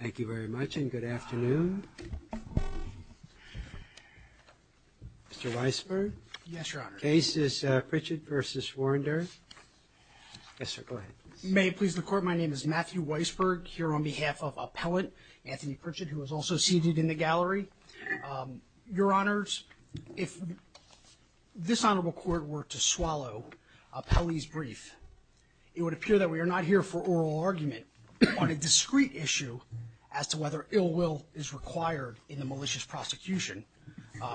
May it please the court, my name is Matthew Weisberg, here on behalf of Appellant Anthony Pritchett, who is also seated in the gallery. Your honors, if this honorable court were to swallow Appellee's brief, it would appear that we are not here for oral argument on a discrete issue as to whether ill will is required in the malicious prosecution,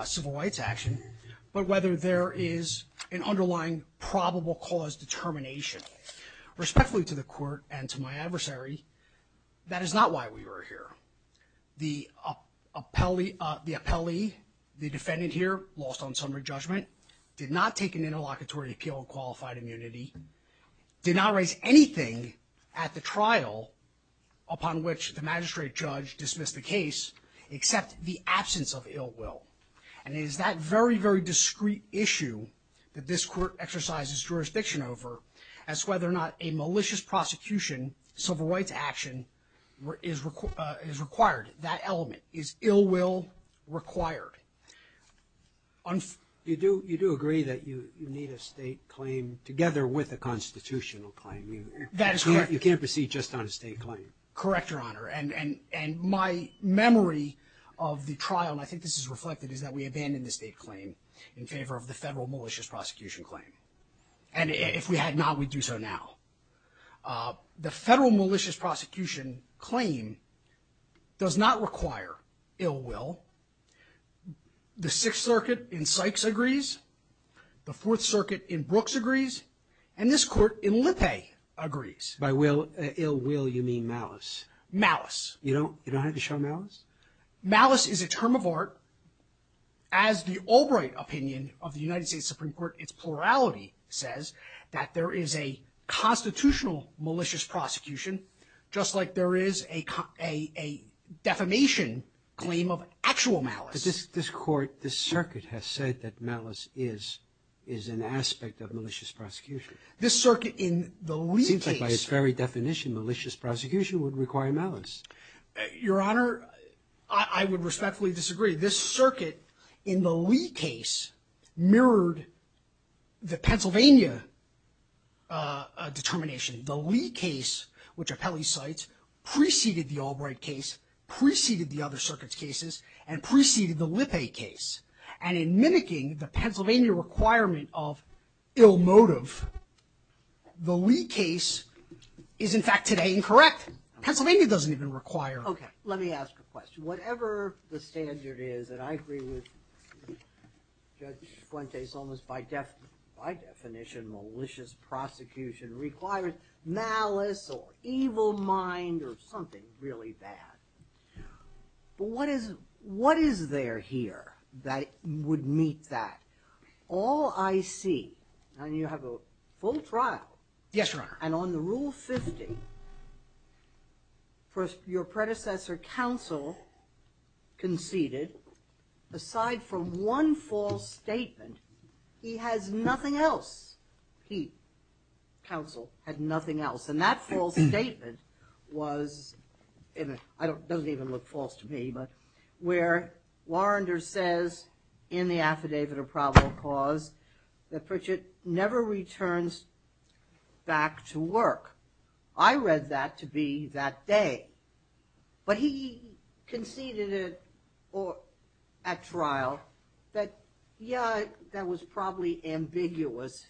civil rights action, but whether there is an underlying probable cause determination. Respectfully to the court and to my adversary, that is not why we are here. The appellee, the defendant here, lost on summary judgment, did not take an interlocutory appeal of qualified immunity, did not raise anything at the trial upon which the magistrate judge dismissed the case except the absence of ill will. And it is that very, very discrete issue that this court exercises jurisdiction over as to whether or not a malicious prosecution, civil rights action, is required, that element, is ill will required. You do agree that you need a state claim together with a constitutional claim. That is correct. You can't proceed just on a state claim. Correct your honor. And my memory of the trial, and I think this is reflected, is that we abandoned the state claim in favor of the federal malicious prosecution claim. And if we had not, we'd do so now. The federal malicious prosecution claim does not require ill will. The Sixth Circuit in Sykes agrees, the Fourth Circuit in Brooks agrees, and this court in Lippe agrees. By ill will, you mean malice. Malice. You don't have to show malice? Malice is a term of art. As the Albright opinion of the United States Supreme Court, its plurality says, that there is a constitutional malicious prosecution, just like there is a defamation claim of actual malice. But this court, this circuit, has said that malice is an aspect of malicious prosecution. This circuit in the Lippe case. It seems like by its very definition, malicious prosecution would require malice. Your honor, I would respectfully disagree. This circuit, in the Lee case, mirrored the Pennsylvania determination. The Lee case, which Appelli cites, preceded the Albright case, preceded the other circuits cases, and preceded the Lippe case. And in mimicking the Pennsylvania requirement of ill motive, the Lee case is, in fact, today incorrect. Pennsylvania doesn't even require it. Okay. Let me ask a question. Whatever the standard is, and I agree with Judge Fuentes, almost by definition, malicious prosecution requires malice, or evil mind, or something really bad. But what is there here that would meet that? All I see, and you have a full trial. Yes, your honor. And on the Rule 50, your predecessor counsel conceded, aside from one false statement, he has nothing else. He, counsel, had nothing else. And that false statement was, it doesn't even look false to me, but where Warrender says, in the affidavit of probable cause, that Pritchett never returns back to work. I read that to be that day. But he conceded it at trial that, yeah, that was probably ambiguous.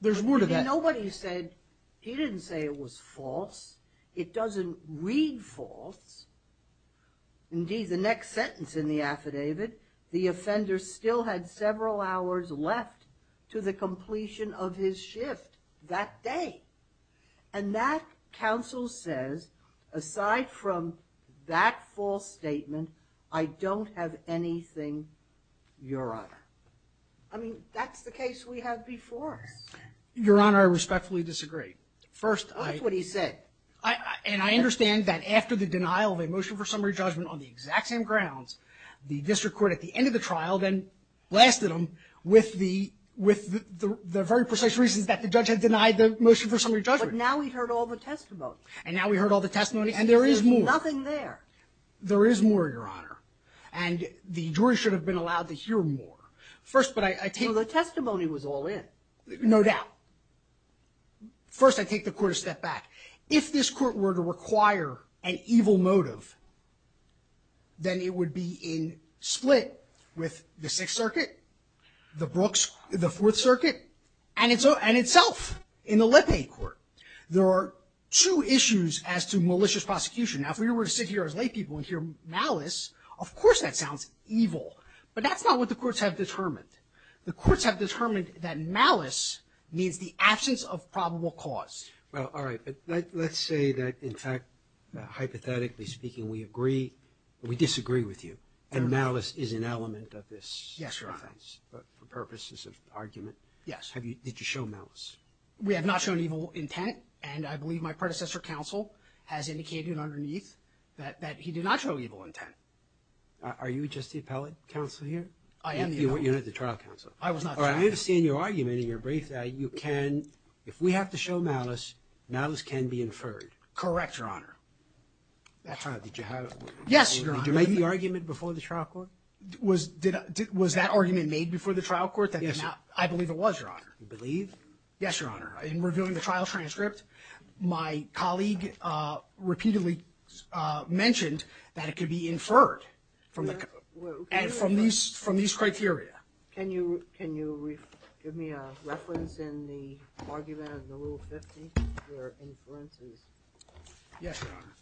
There's more to that. Nobody said, he didn't say it was false. It doesn't read false. Indeed, the next sentence in the affidavit, the offender still had several hours left to the completion of his shift that day. And that counsel says, aside from that false statement, I don't have anything, your honor. I mean, that's the case we had before. Your honor, I respectfully disagree. First, I. That's what he said. And I understand that after the denial of a motion for summary judgment on the exact same grounds, the district court at the end of the trial then blasted him with the very precise reasons that the judge had denied the motion for summary judgment. But now we heard all the testimony. And now we heard all the testimony. And there is more. There's nothing there. There is more, your honor. And the jury should have been allowed to hear more. First, but I take. So the testimony was all in. No doubt. First, I take the court a step back. If this court were to require an evil motive, then it would be in split with the Sixth Circuit, the Brooks, the Fourth Circuit, and itself in the Lipay court. There are two issues as to malicious prosecution. Now, if we were to sit here as laypeople and hear malice, of course that sounds evil. But that's not what the courts have determined. The courts have determined that malice means the absence of probable cause. Well, all right. But let's say that, in fact, hypothetically speaking, we agree, we disagree with you. And malice is an element of this. Yes, your honor. But for purposes of argument. Yes. Have you, did you show malice? We have not shown evil intent. And I believe my predecessor counsel has indicated underneath that he did not show evil intent. Are you just the appellate counsel here? I am the appellate. You're not the trial counsel. I was not the trial counsel. All right. I understand your argument in your brief that you can, if we have to show malice, malice can be inferred. Correct, your honor. That's right. Did you have? Yes, your honor. Did you make the argument before the trial court? Was that argument made before the trial court? Yes, sir. I believe it was, your honor. You believe? Yes, your honor. In reviewing the trial transcript, my colleague repeatedly mentioned that it could be inferred from the, and from these criteria. Can you give me a reference in the argument in the Rule 50 for inferences? Yes, your honor.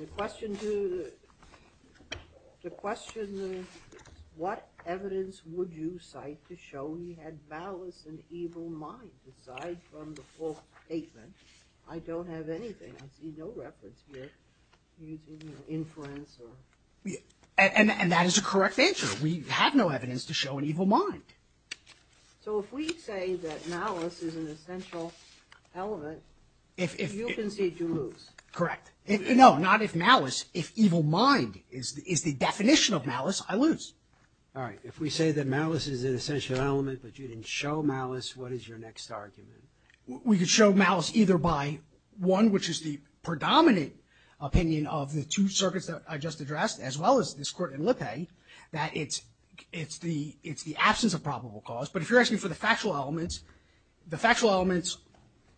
The question to, the question, what evidence would you cite to show he had malice and evil mind aside from the false statement, I don't have anything. I see no reference here using inference. And that is a correct answer. We have no evidence to show an evil mind. So if we say that malice is an essential element, you concede to lose. Correct. No, not if malice, if evil mind is the definition of malice, I lose. All right. If we say that malice is an essential element, but you didn't show malice, what is your next argument? We could show malice either by one, which is the predominant opinion of the two circuits that I just addressed, as well as this court in Lippe, that it's the absence of probable cause. But if you're asking for the factual elements, the factual elements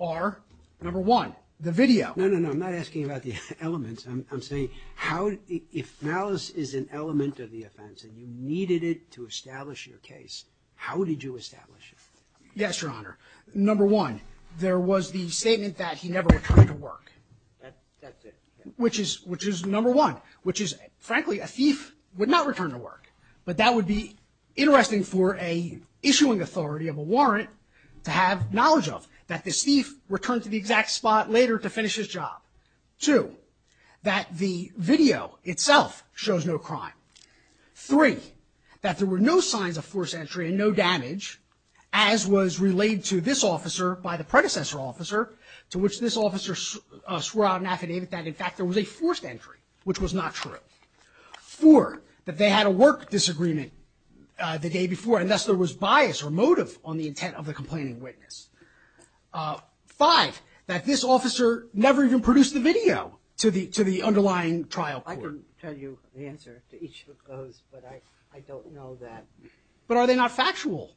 are, number one, the video. No, no, no, I'm not asking about the elements. I'm saying how, if malice is an element of the offense and you needed it to establish your case, how did you establish it? Yes, your honor. Number one, there was the statement that he never returned to work. That's it. Which is, which is number one, which is, frankly, a thief would not return to work. But that would be interesting for a issuing authority of a warrant to have knowledge of, that this thief returned to the exact spot later to finish his job. Two, that the video itself shows no crime. Three, that there were no signs of force entry and no damage, as was relayed to this officer by the predecessor officer, to which this officer swore out an affidavit that, in fact, there was a forced entry, which was not true. Four, that they had a work disagreement the day before, and thus there was bias or motive on the intent of the complaining witness. Five, that this officer never even produced the video to the, to the underlying trial court. I can tell you the answer to each of those, but I, I don't know that. But are they not factual?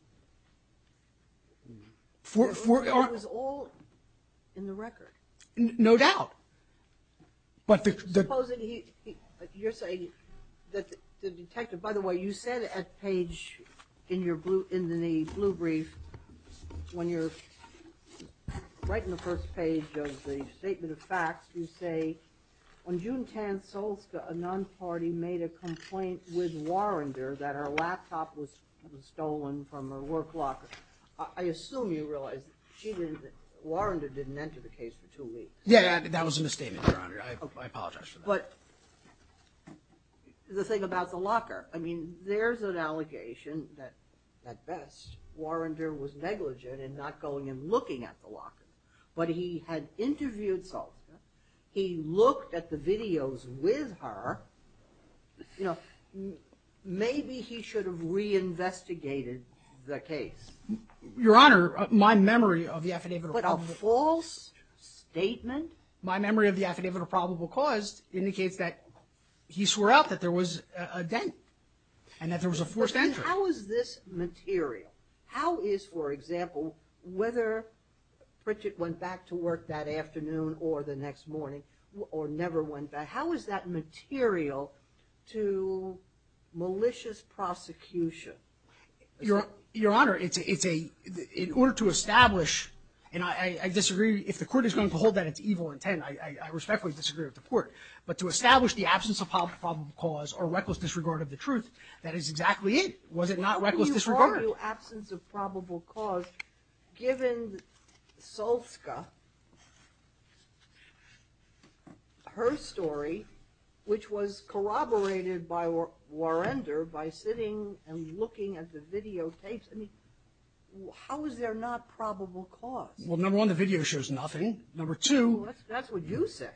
Four, four, are. It was all in the record. No doubt. But the. Supposing he, you're saying that the, the detective, by the way, you said at page in your blue, in the blue brief, when you're writing the first page of the statement of facts, you say, on June 10th, Solskjaer, a non-party, made a complaint with Warrender that her laptop was stolen from her. Her work locker. I, I assume you realize that she didn't, that Warrender didn't enter the case for two weeks. Yeah, that, that was a misstatement, Your Honor. I, I apologize for that. But the thing about the locker, I mean, there's an allegation that, at best, Warrender was negligent in not going and looking at the locker. But he had interviewed Solskjaer. He looked at the videos with her. You know, maybe he should have reinvestigated the case. Your Honor, my memory of the affidavit of probable. But a false statement. My memory of the affidavit of probable cause indicates that he swore out that there was a dent. And that there was a forced entry. But then how is this material? How is, for example, whether Pritchett went back to work that afternoon or the next morning or never went back, how is that material to malicious prosecution? Your, Your Honor, it's a, it's a, in order to establish, and I, I disagree, if the court is going to hold that it's evil intent, I, I respectfully disagree with the court. But to establish the absence of probable cause or reckless disregard of the truth, that is exactly it. Was it not reckless disregard? Absence of probable cause, given Solskjaer, her story, which was corroborated by Warrender by sitting and looking at the videotapes. I mean, how is there not probable cause? Well, number one, the video shows nothing. Number two. That's what you say.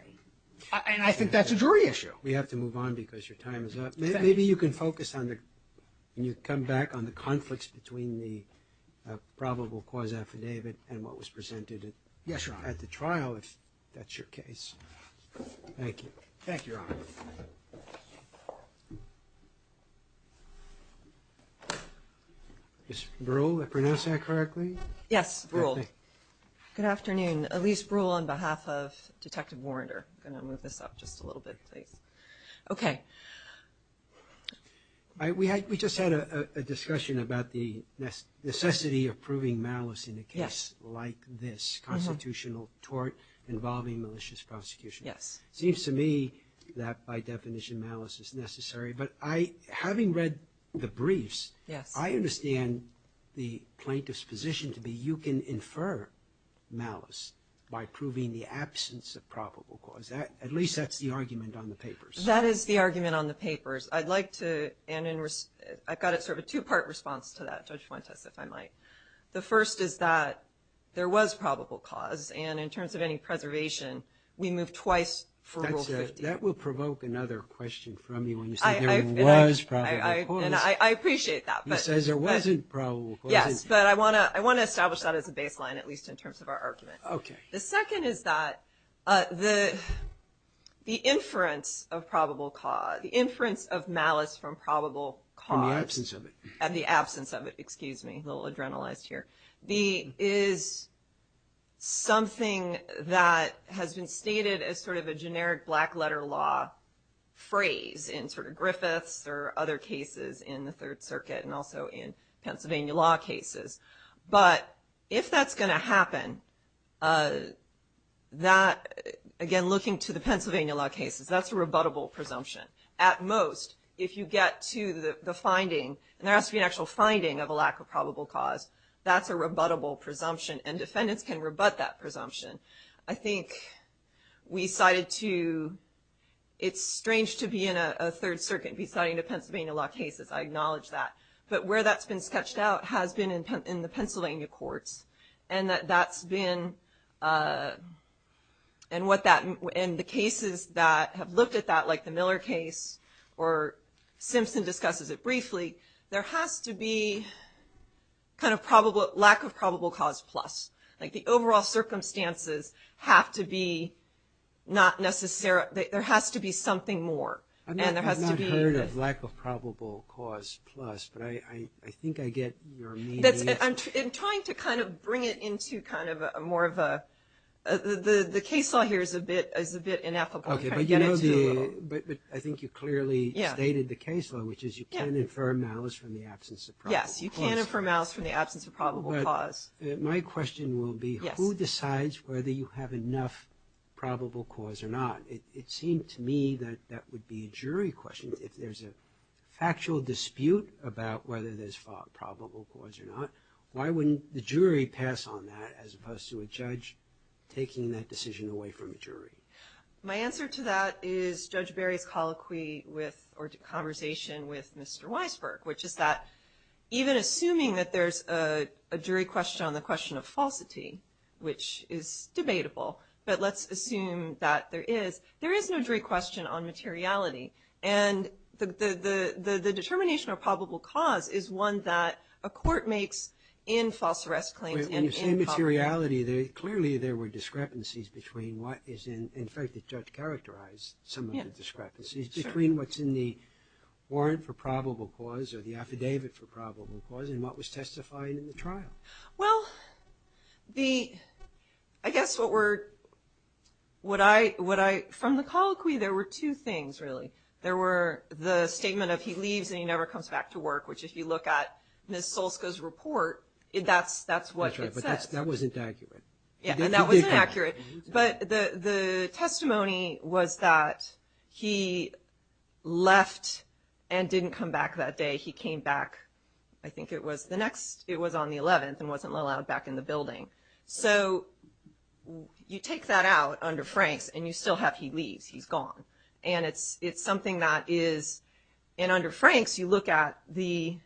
And I think that's a jury issue. We have to move on because your time is up. Maybe you can focus on the, when you come back, on the conflicts between the probable cause affidavit and what was presented at the trial, if that's your case. Thank you. Thank you, Your Honor. Ms. Bruhl, did I pronounce that correctly? Yes, Bruhl. Good afternoon. Elyse Bruhl on behalf of Detective Warrender. I'm going to move this up just a little bit, please. Okay. We just had a discussion about the necessity of proving malice in a case like this, constitutional tort involving malicious prosecution. It seems to me that, by definition, malice is necessary. But having read the briefs, I understand the plaintiff's position to be you can infer malice by proving the absence of probable cause. At least that's the argument on the papers. That is the argument on the papers. I'd like to, and I've got sort of a two-part response to that, Judge Fuentes, if I might. The first is that there was probable cause, and in terms of any preservation, we move twice for Rule 50. That will provoke another question from you when you say there was probable cause. I appreciate that. He says there wasn't probable cause. Yes, but I want to establish that as a baseline, at least in terms of our argument. Okay. The second is that the inference of probable cause, the inference of malice from probable cause… In the absence of it. In the absence of it. Excuse me. A little adrenalized here. …is something that has been stated as sort of a generic black-letter law phrase in sort of Griffiths or other cases in the Third Circuit and also in Pennsylvania law cases. But if that's going to happen, again, looking to the Pennsylvania law cases, that's a rebuttable presumption. At most, if you get to the finding, and there has to be an actual finding of a lack of probable cause, that's a rebuttable presumption, and defendants can rebut that presumption. I think we cited to… It's strange to be in a Third Circuit and be citing to Pennsylvania law cases. I acknowledge that. But where that's been sketched out has been in the Pennsylvania courts and that's been… And the cases that have looked at that, like the Miller case or Simpson discusses it briefly, there has to be kind of lack of probable cause plus. Like the overall circumstances have to be not necessarily… There has to be something more. And there has to be… I think I get your meaning. I'm trying to kind of bring it into kind of more of a… The case law here is a bit ineffable. But I think you clearly stated the case law, which is you can infer malice from the absence of probable cause. Yes, you can infer malice from the absence of probable cause. My question will be, who decides whether you have enough probable cause or not? It seemed to me that that would be a jury question. If there's a factual dispute about whether there's probable cause or not, why wouldn't the jury pass on that as opposed to a judge taking that decision away from the jury? My answer to that is Judge Berry's colloquy with, or conversation with Mr. Weisberg, which is that even assuming that there's a jury question on the question of falsity, which is debatable, but let's assume that there is, there is no jury question on materiality. And the determination of probable cause is one that a court makes in false arrest claims. In the same materiality, clearly there were discrepancies between what is in… In fact, the judge characterized some of the discrepancies between what's in the warrant for probable cause or the affidavit for probable cause and what was testified in the trial. Well, the… I guess what we're… From the colloquy, there were two things really. There were the statement of he leaves and he never comes back to work, which if you look at Ms. Solska's report, that's what it says. That's right, but that wasn't accurate. Yeah, and that wasn't accurate. But the testimony was that he left and didn't come back that day. He came back, I think it was the next, it was on the 11th and wasn't allowed back in the building. So you take that out under Franks and you still have he leaves, he's gone. And it's something that is… And under Franks, you look at the…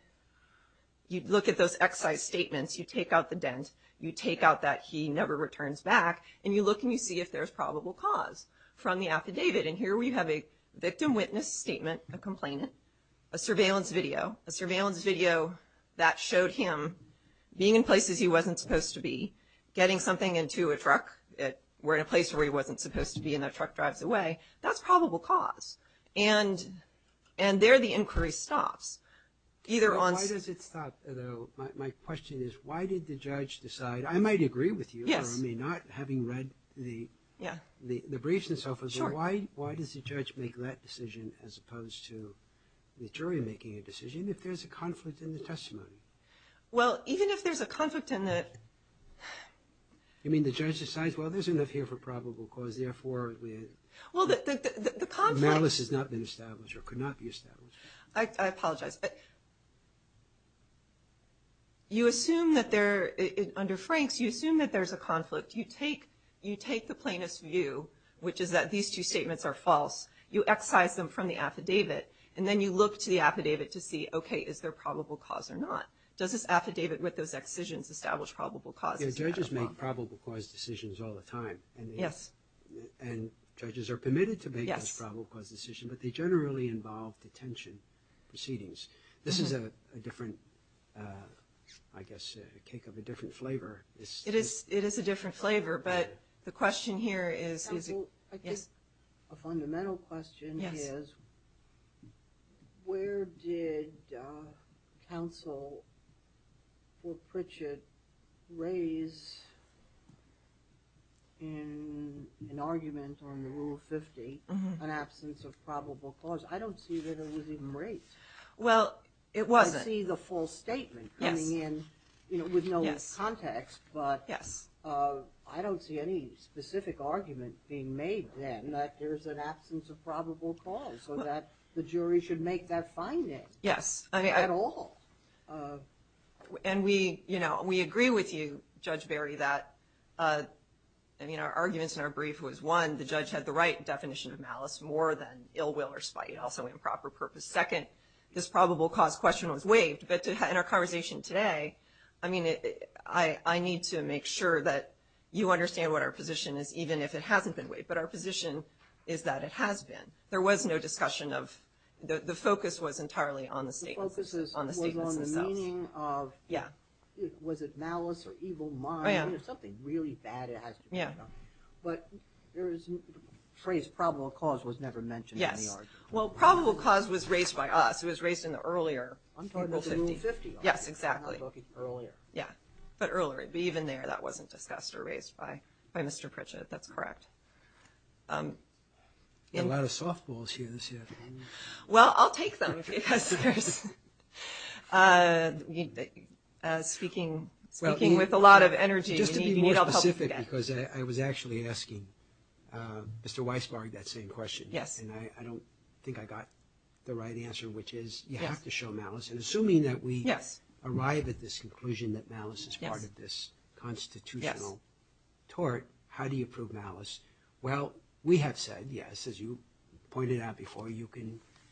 You look at those excise statements, you take out the dent, you take out that he never returns back, and you look and you see if there's probable cause from the affidavit. And here we have a victim witness statement, a complainant, a surveillance video. A surveillance video that showed him being in places he wasn't supposed to be, getting something into a truck. We're in a place where he wasn't supposed to be and that truck drives away. That's probable cause. And there the inquiry stops. Why does it stop though? My question is, why did the judge decide? I might agree with you, or I may not, having read the briefs and so forth. Why does the judge make that decision as opposed to the jury making a decision if there's a conflict in the testimony? Well, even if there's a conflict in the… You mean the judge decides, well, there's enough here for probable cause, therefore… Well, the conflict… Malice has not been established or could not be established. I apologize. You assume that there, under Franks, you assume that there's a conflict. You take the plaintiff's view, which is that these two statements are false. You excise them from the affidavit and then you look to the affidavit to see, okay, is there probable cause or not? Does this affidavit with those excisions establish probable cause? Judges make probable cause decisions all the time. Yes. And judges are permitted to make those probable cause decisions, but they generally involve detention proceedings. This is a different, I guess, a cake of a different flavor. It is a different flavor, but the question here is… Counsel, I think a fundamental question is, where did counsel for Pritchett raise in an argument on Rule 50 an absence of probable cause? I don't see that it was even raised. Well, it wasn't. I see the false statement coming in with no context, but I don't see any specific argument being made then that there's an absence of probable cause. So the jury should make that finding. Yes. At all. And we agree with you, Judge Barry, that our arguments in our brief was, one, the judge had the right definition of malice more than ill will or spite, also improper purpose. Second, this probable cause question was waived, but in our conversation today, I need to make sure that you understand what our position is, even if it hasn't been waived. But our position is that it has been. There was no discussion of... The focus was entirely on the statements themselves. The focus was on the meaning of... Yeah. Was it malice or evil mind or something really bad it has to depend on? Yeah. But the phrase probable cause was never mentioned in the argument. Yes. Well, probable cause was raised by us. It was raised in the earlier... I'm talking about Rule 50. Yes, exactly. Earlier. Yeah. But earlier. But even there, that wasn't discussed or raised by Mr. Pritchett. That's correct. A lot of softballs here this afternoon. Well, I'll take them because there's... Speaking with a lot of energy. Just to be more specific, because I was actually asking Mr. Weisbarg that same question. Yes. And I don't think I got the right answer, which is you have to show malice. And assuming that we... Yes. ...arrive at this conclusion that malice is part of this... Yes. ...constitutional tort, how do you prove malice? Well, we have said, yes, as you pointed out before,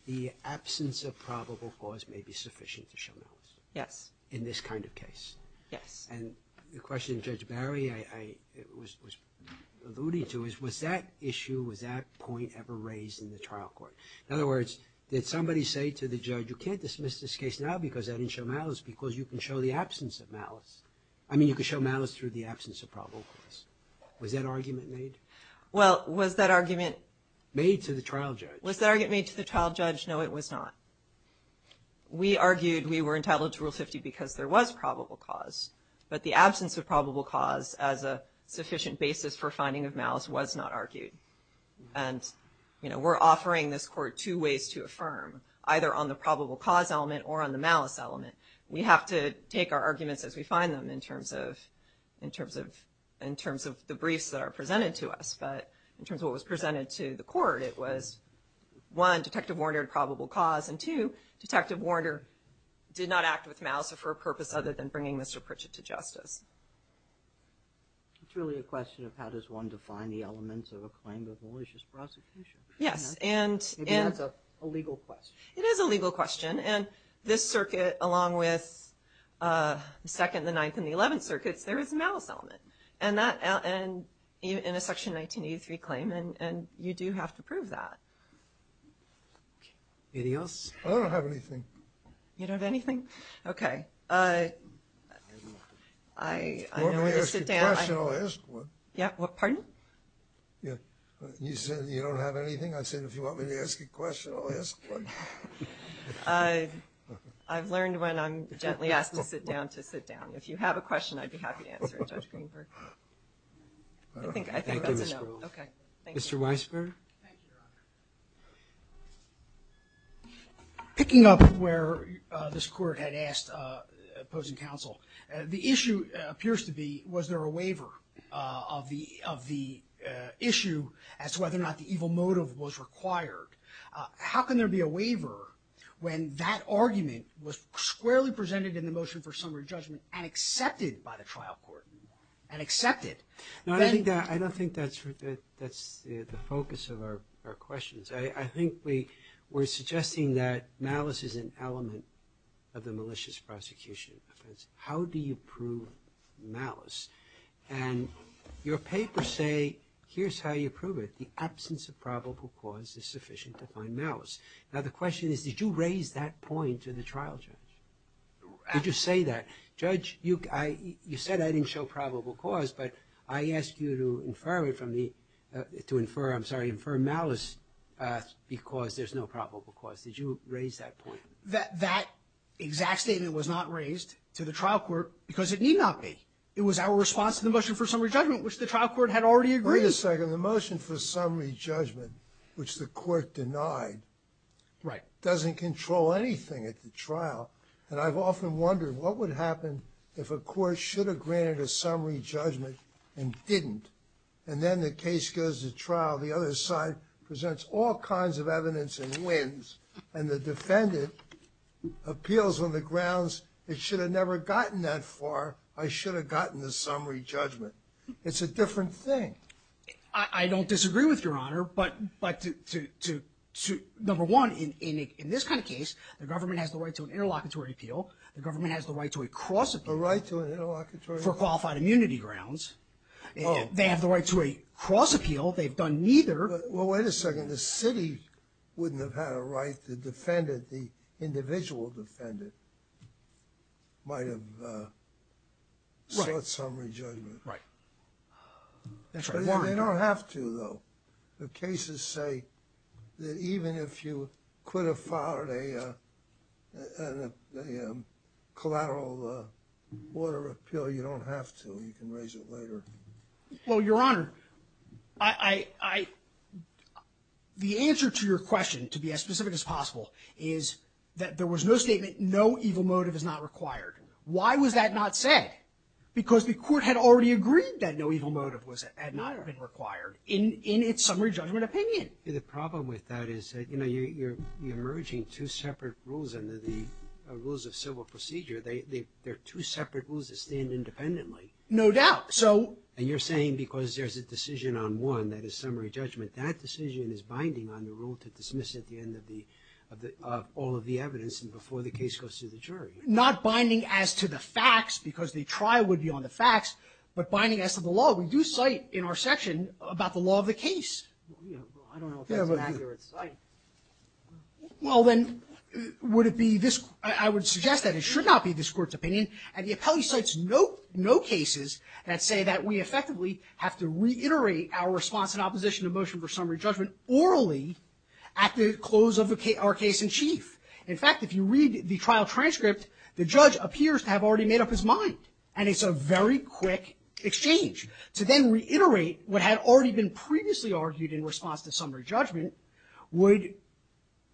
the absence of probable cause may be sufficient to show malice. Yes. In this kind of case. Yes. And the question Judge Barry was alluding to is was that issue, was that point ever raised in the trial court? In other words, did somebody say to the judge, you can't dismiss this case now because I didn't show malice because you can show the absence of malice. I mean, you can show malice through the absence of probable cause. Was that argument made? Well, was that argument... Made to the trial judge. Was that argument made to the trial judge? No, it was not. We argued we were entitled to Rule 50 because there was probable cause, but the absence of probable cause as a sufficient basis for finding of malice was not argued. And, you know, we're offering this court two ways to affirm, either on the probable cause element or on the malice element. We have to take our arguments as we find them in terms of the briefs that are presented to us, but in terms of what was presented to the court, it was one, Detective Warner had probable cause, and two, Detective Warner did not act with malice or for a purpose other than bringing Mr. Pritchett to justice. It's really a question of how does one define the elements of a claim of malicious prosecution? Yes, and... Maybe that's a legal question. It is a legal question, and this circuit, along with the Second, the Ninth, and the Eleventh Circuits, there is a malice element. And that, in a Section 1983 claim, and you do have to prove that. Anything else? I don't have anything. You don't have anything? I know when to sit down. If you want me to ask you a question, I'll ask one. Yeah, pardon? You said you don't have anything. I said, if you want me to ask you a question, I'll ask one. I've learned when I'm gently asked to sit down, to sit down. If you have a question, I'd be happy to answer it, Judge Greenberg. I think that's enough. Okay, thank you. Mr. Weisberg? Thank you, Your Honor. Picking up where this Court had asked opposing counsel, the issue appears to be, was there a waiver of the issue as to whether or not the evil motive was required? How can there be a waiver when that argument was squarely presented in the motion for summary judgment and accepted by the trial court and accepted? I don't think that's the focus of our questions. I think we're suggesting that malice is an element of the malicious prosecution offense. How do you prove malice? And your papers say here's how you prove it. The absence of probable cause is sufficient to find malice. Now the question is, did you raise that point to the trial judge? Did you say that? Judge, you said I didn't show probable cause, but I ask you to infer from the, to infer, I'm sorry, infer malice because there's no probable cause. Did you raise that point? That exact statement was not raised to the trial court because it need not be. It was our response to the motion for summary judgment which the trial court had already agreed. Wait a second. The motion for summary judgment which the court denied Right. doesn't control anything at the trial and I've often wondered what would happen if a court should have granted a summary judgment and didn't and then the case goes to trial the other side presents all kinds of evidence and wins and the defendant appeals on the grounds it should have never gotten that far I should have gotten the summary judgment. It's a different thing. I don't disagree with your honor but to number one in this kind of case the government has the right to an interlocutory appeal the government to a cross appeal A right to an interlocutory appeal? For qualified immunity grounds. Oh. They have the right to a cross appeal they've done neither Well wait a second. The city wouldn't have had a right the defendant the individual defendant might have sought summary judgment. Right. That's right. They don't have to though. The cases say that even if you could have filed a collateral order appeal you don't have to you can raise it later. Well your honor I I the answer to your question to be as specific as possible is that there was no statement no evil motive is not required why was that not said? Because the court had already agreed that no evil motive had not been required in in its summary judgment opinion. The problem with that is you know you're you're merging two separate rules under the rules of civil procedure they they're two separate rules that stand independently. No doubt. So And you're saying because there's a decision on one that is binding on the rule to dismiss at the end of the of the of all of the evidence and before the case goes to the jury. Not binding as to the facts because the trial would be on the facts but binding as to the law we do cite in our section about the law of the case. Well then would it be this I would suggest that it should not be this court's opinion and the appellate cites no cases that say that we effectively have to reiterate our response in opposition to motion for summary judgment orally at the close of our case in chief. In fact if you read the trial transcript the judge appears to have already made up his mind and it's a very quick exchange to then reiterate what had already been previously argued in response to summary judgment would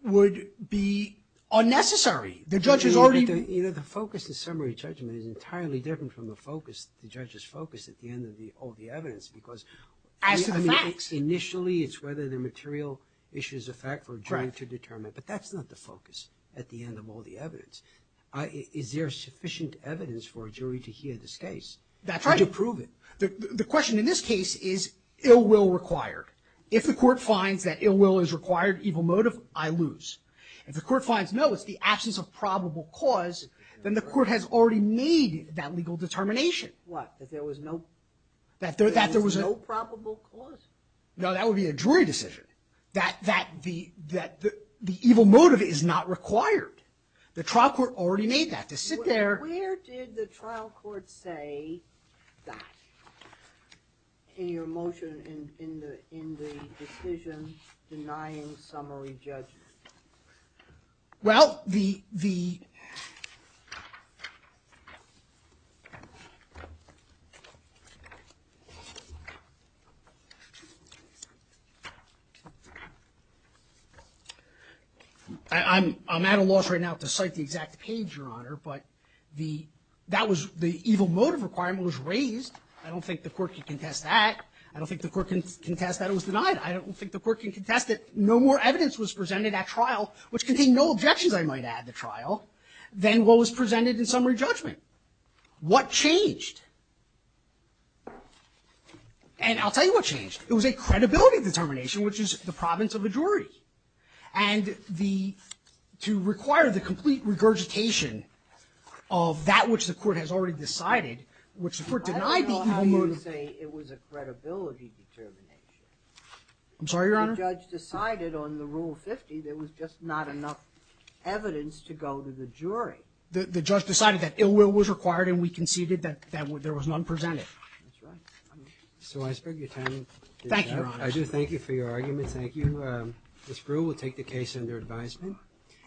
would be unnecessary. The judge has already You know the focus of summary judgment is entirely different from the focus the judge's focus at the end of all the evidence because As to the facts Initially it's whether the material issue is a fact for a jury to determine but that's not the focus at the end of evidence. It's the absence of probable cause then the court has already made that legal determination What? That there was no probable cause? No that would be a jury decision. That the evil motive is not required. The trial court say that in your motion in the decision denying summary judgment? Well the I'm at a loss right now to cite the exact page your honor but the that was the decision denying summary judgment the evil motive requirement was raised I don't think the court can contest that I don't think the court can contest that no more evidence was presented at trial which contained no objections I might add to trial than what was presented in summary judgment what changed and I'll tell you what changed it was a credibility determination which is the province of the jury and the to require the complete regurgitation of that which the court has already decided which the court denied I don't know how you say it was a credibility determination I'm sorry your honor the judge decided on the rule 50 there was just not enough evidence to go to the jury the judge decided that ill will was required and we conceded that there was none presented that's right so I thank you your honor I do thank you for your argument thank you this group will take the case under advisement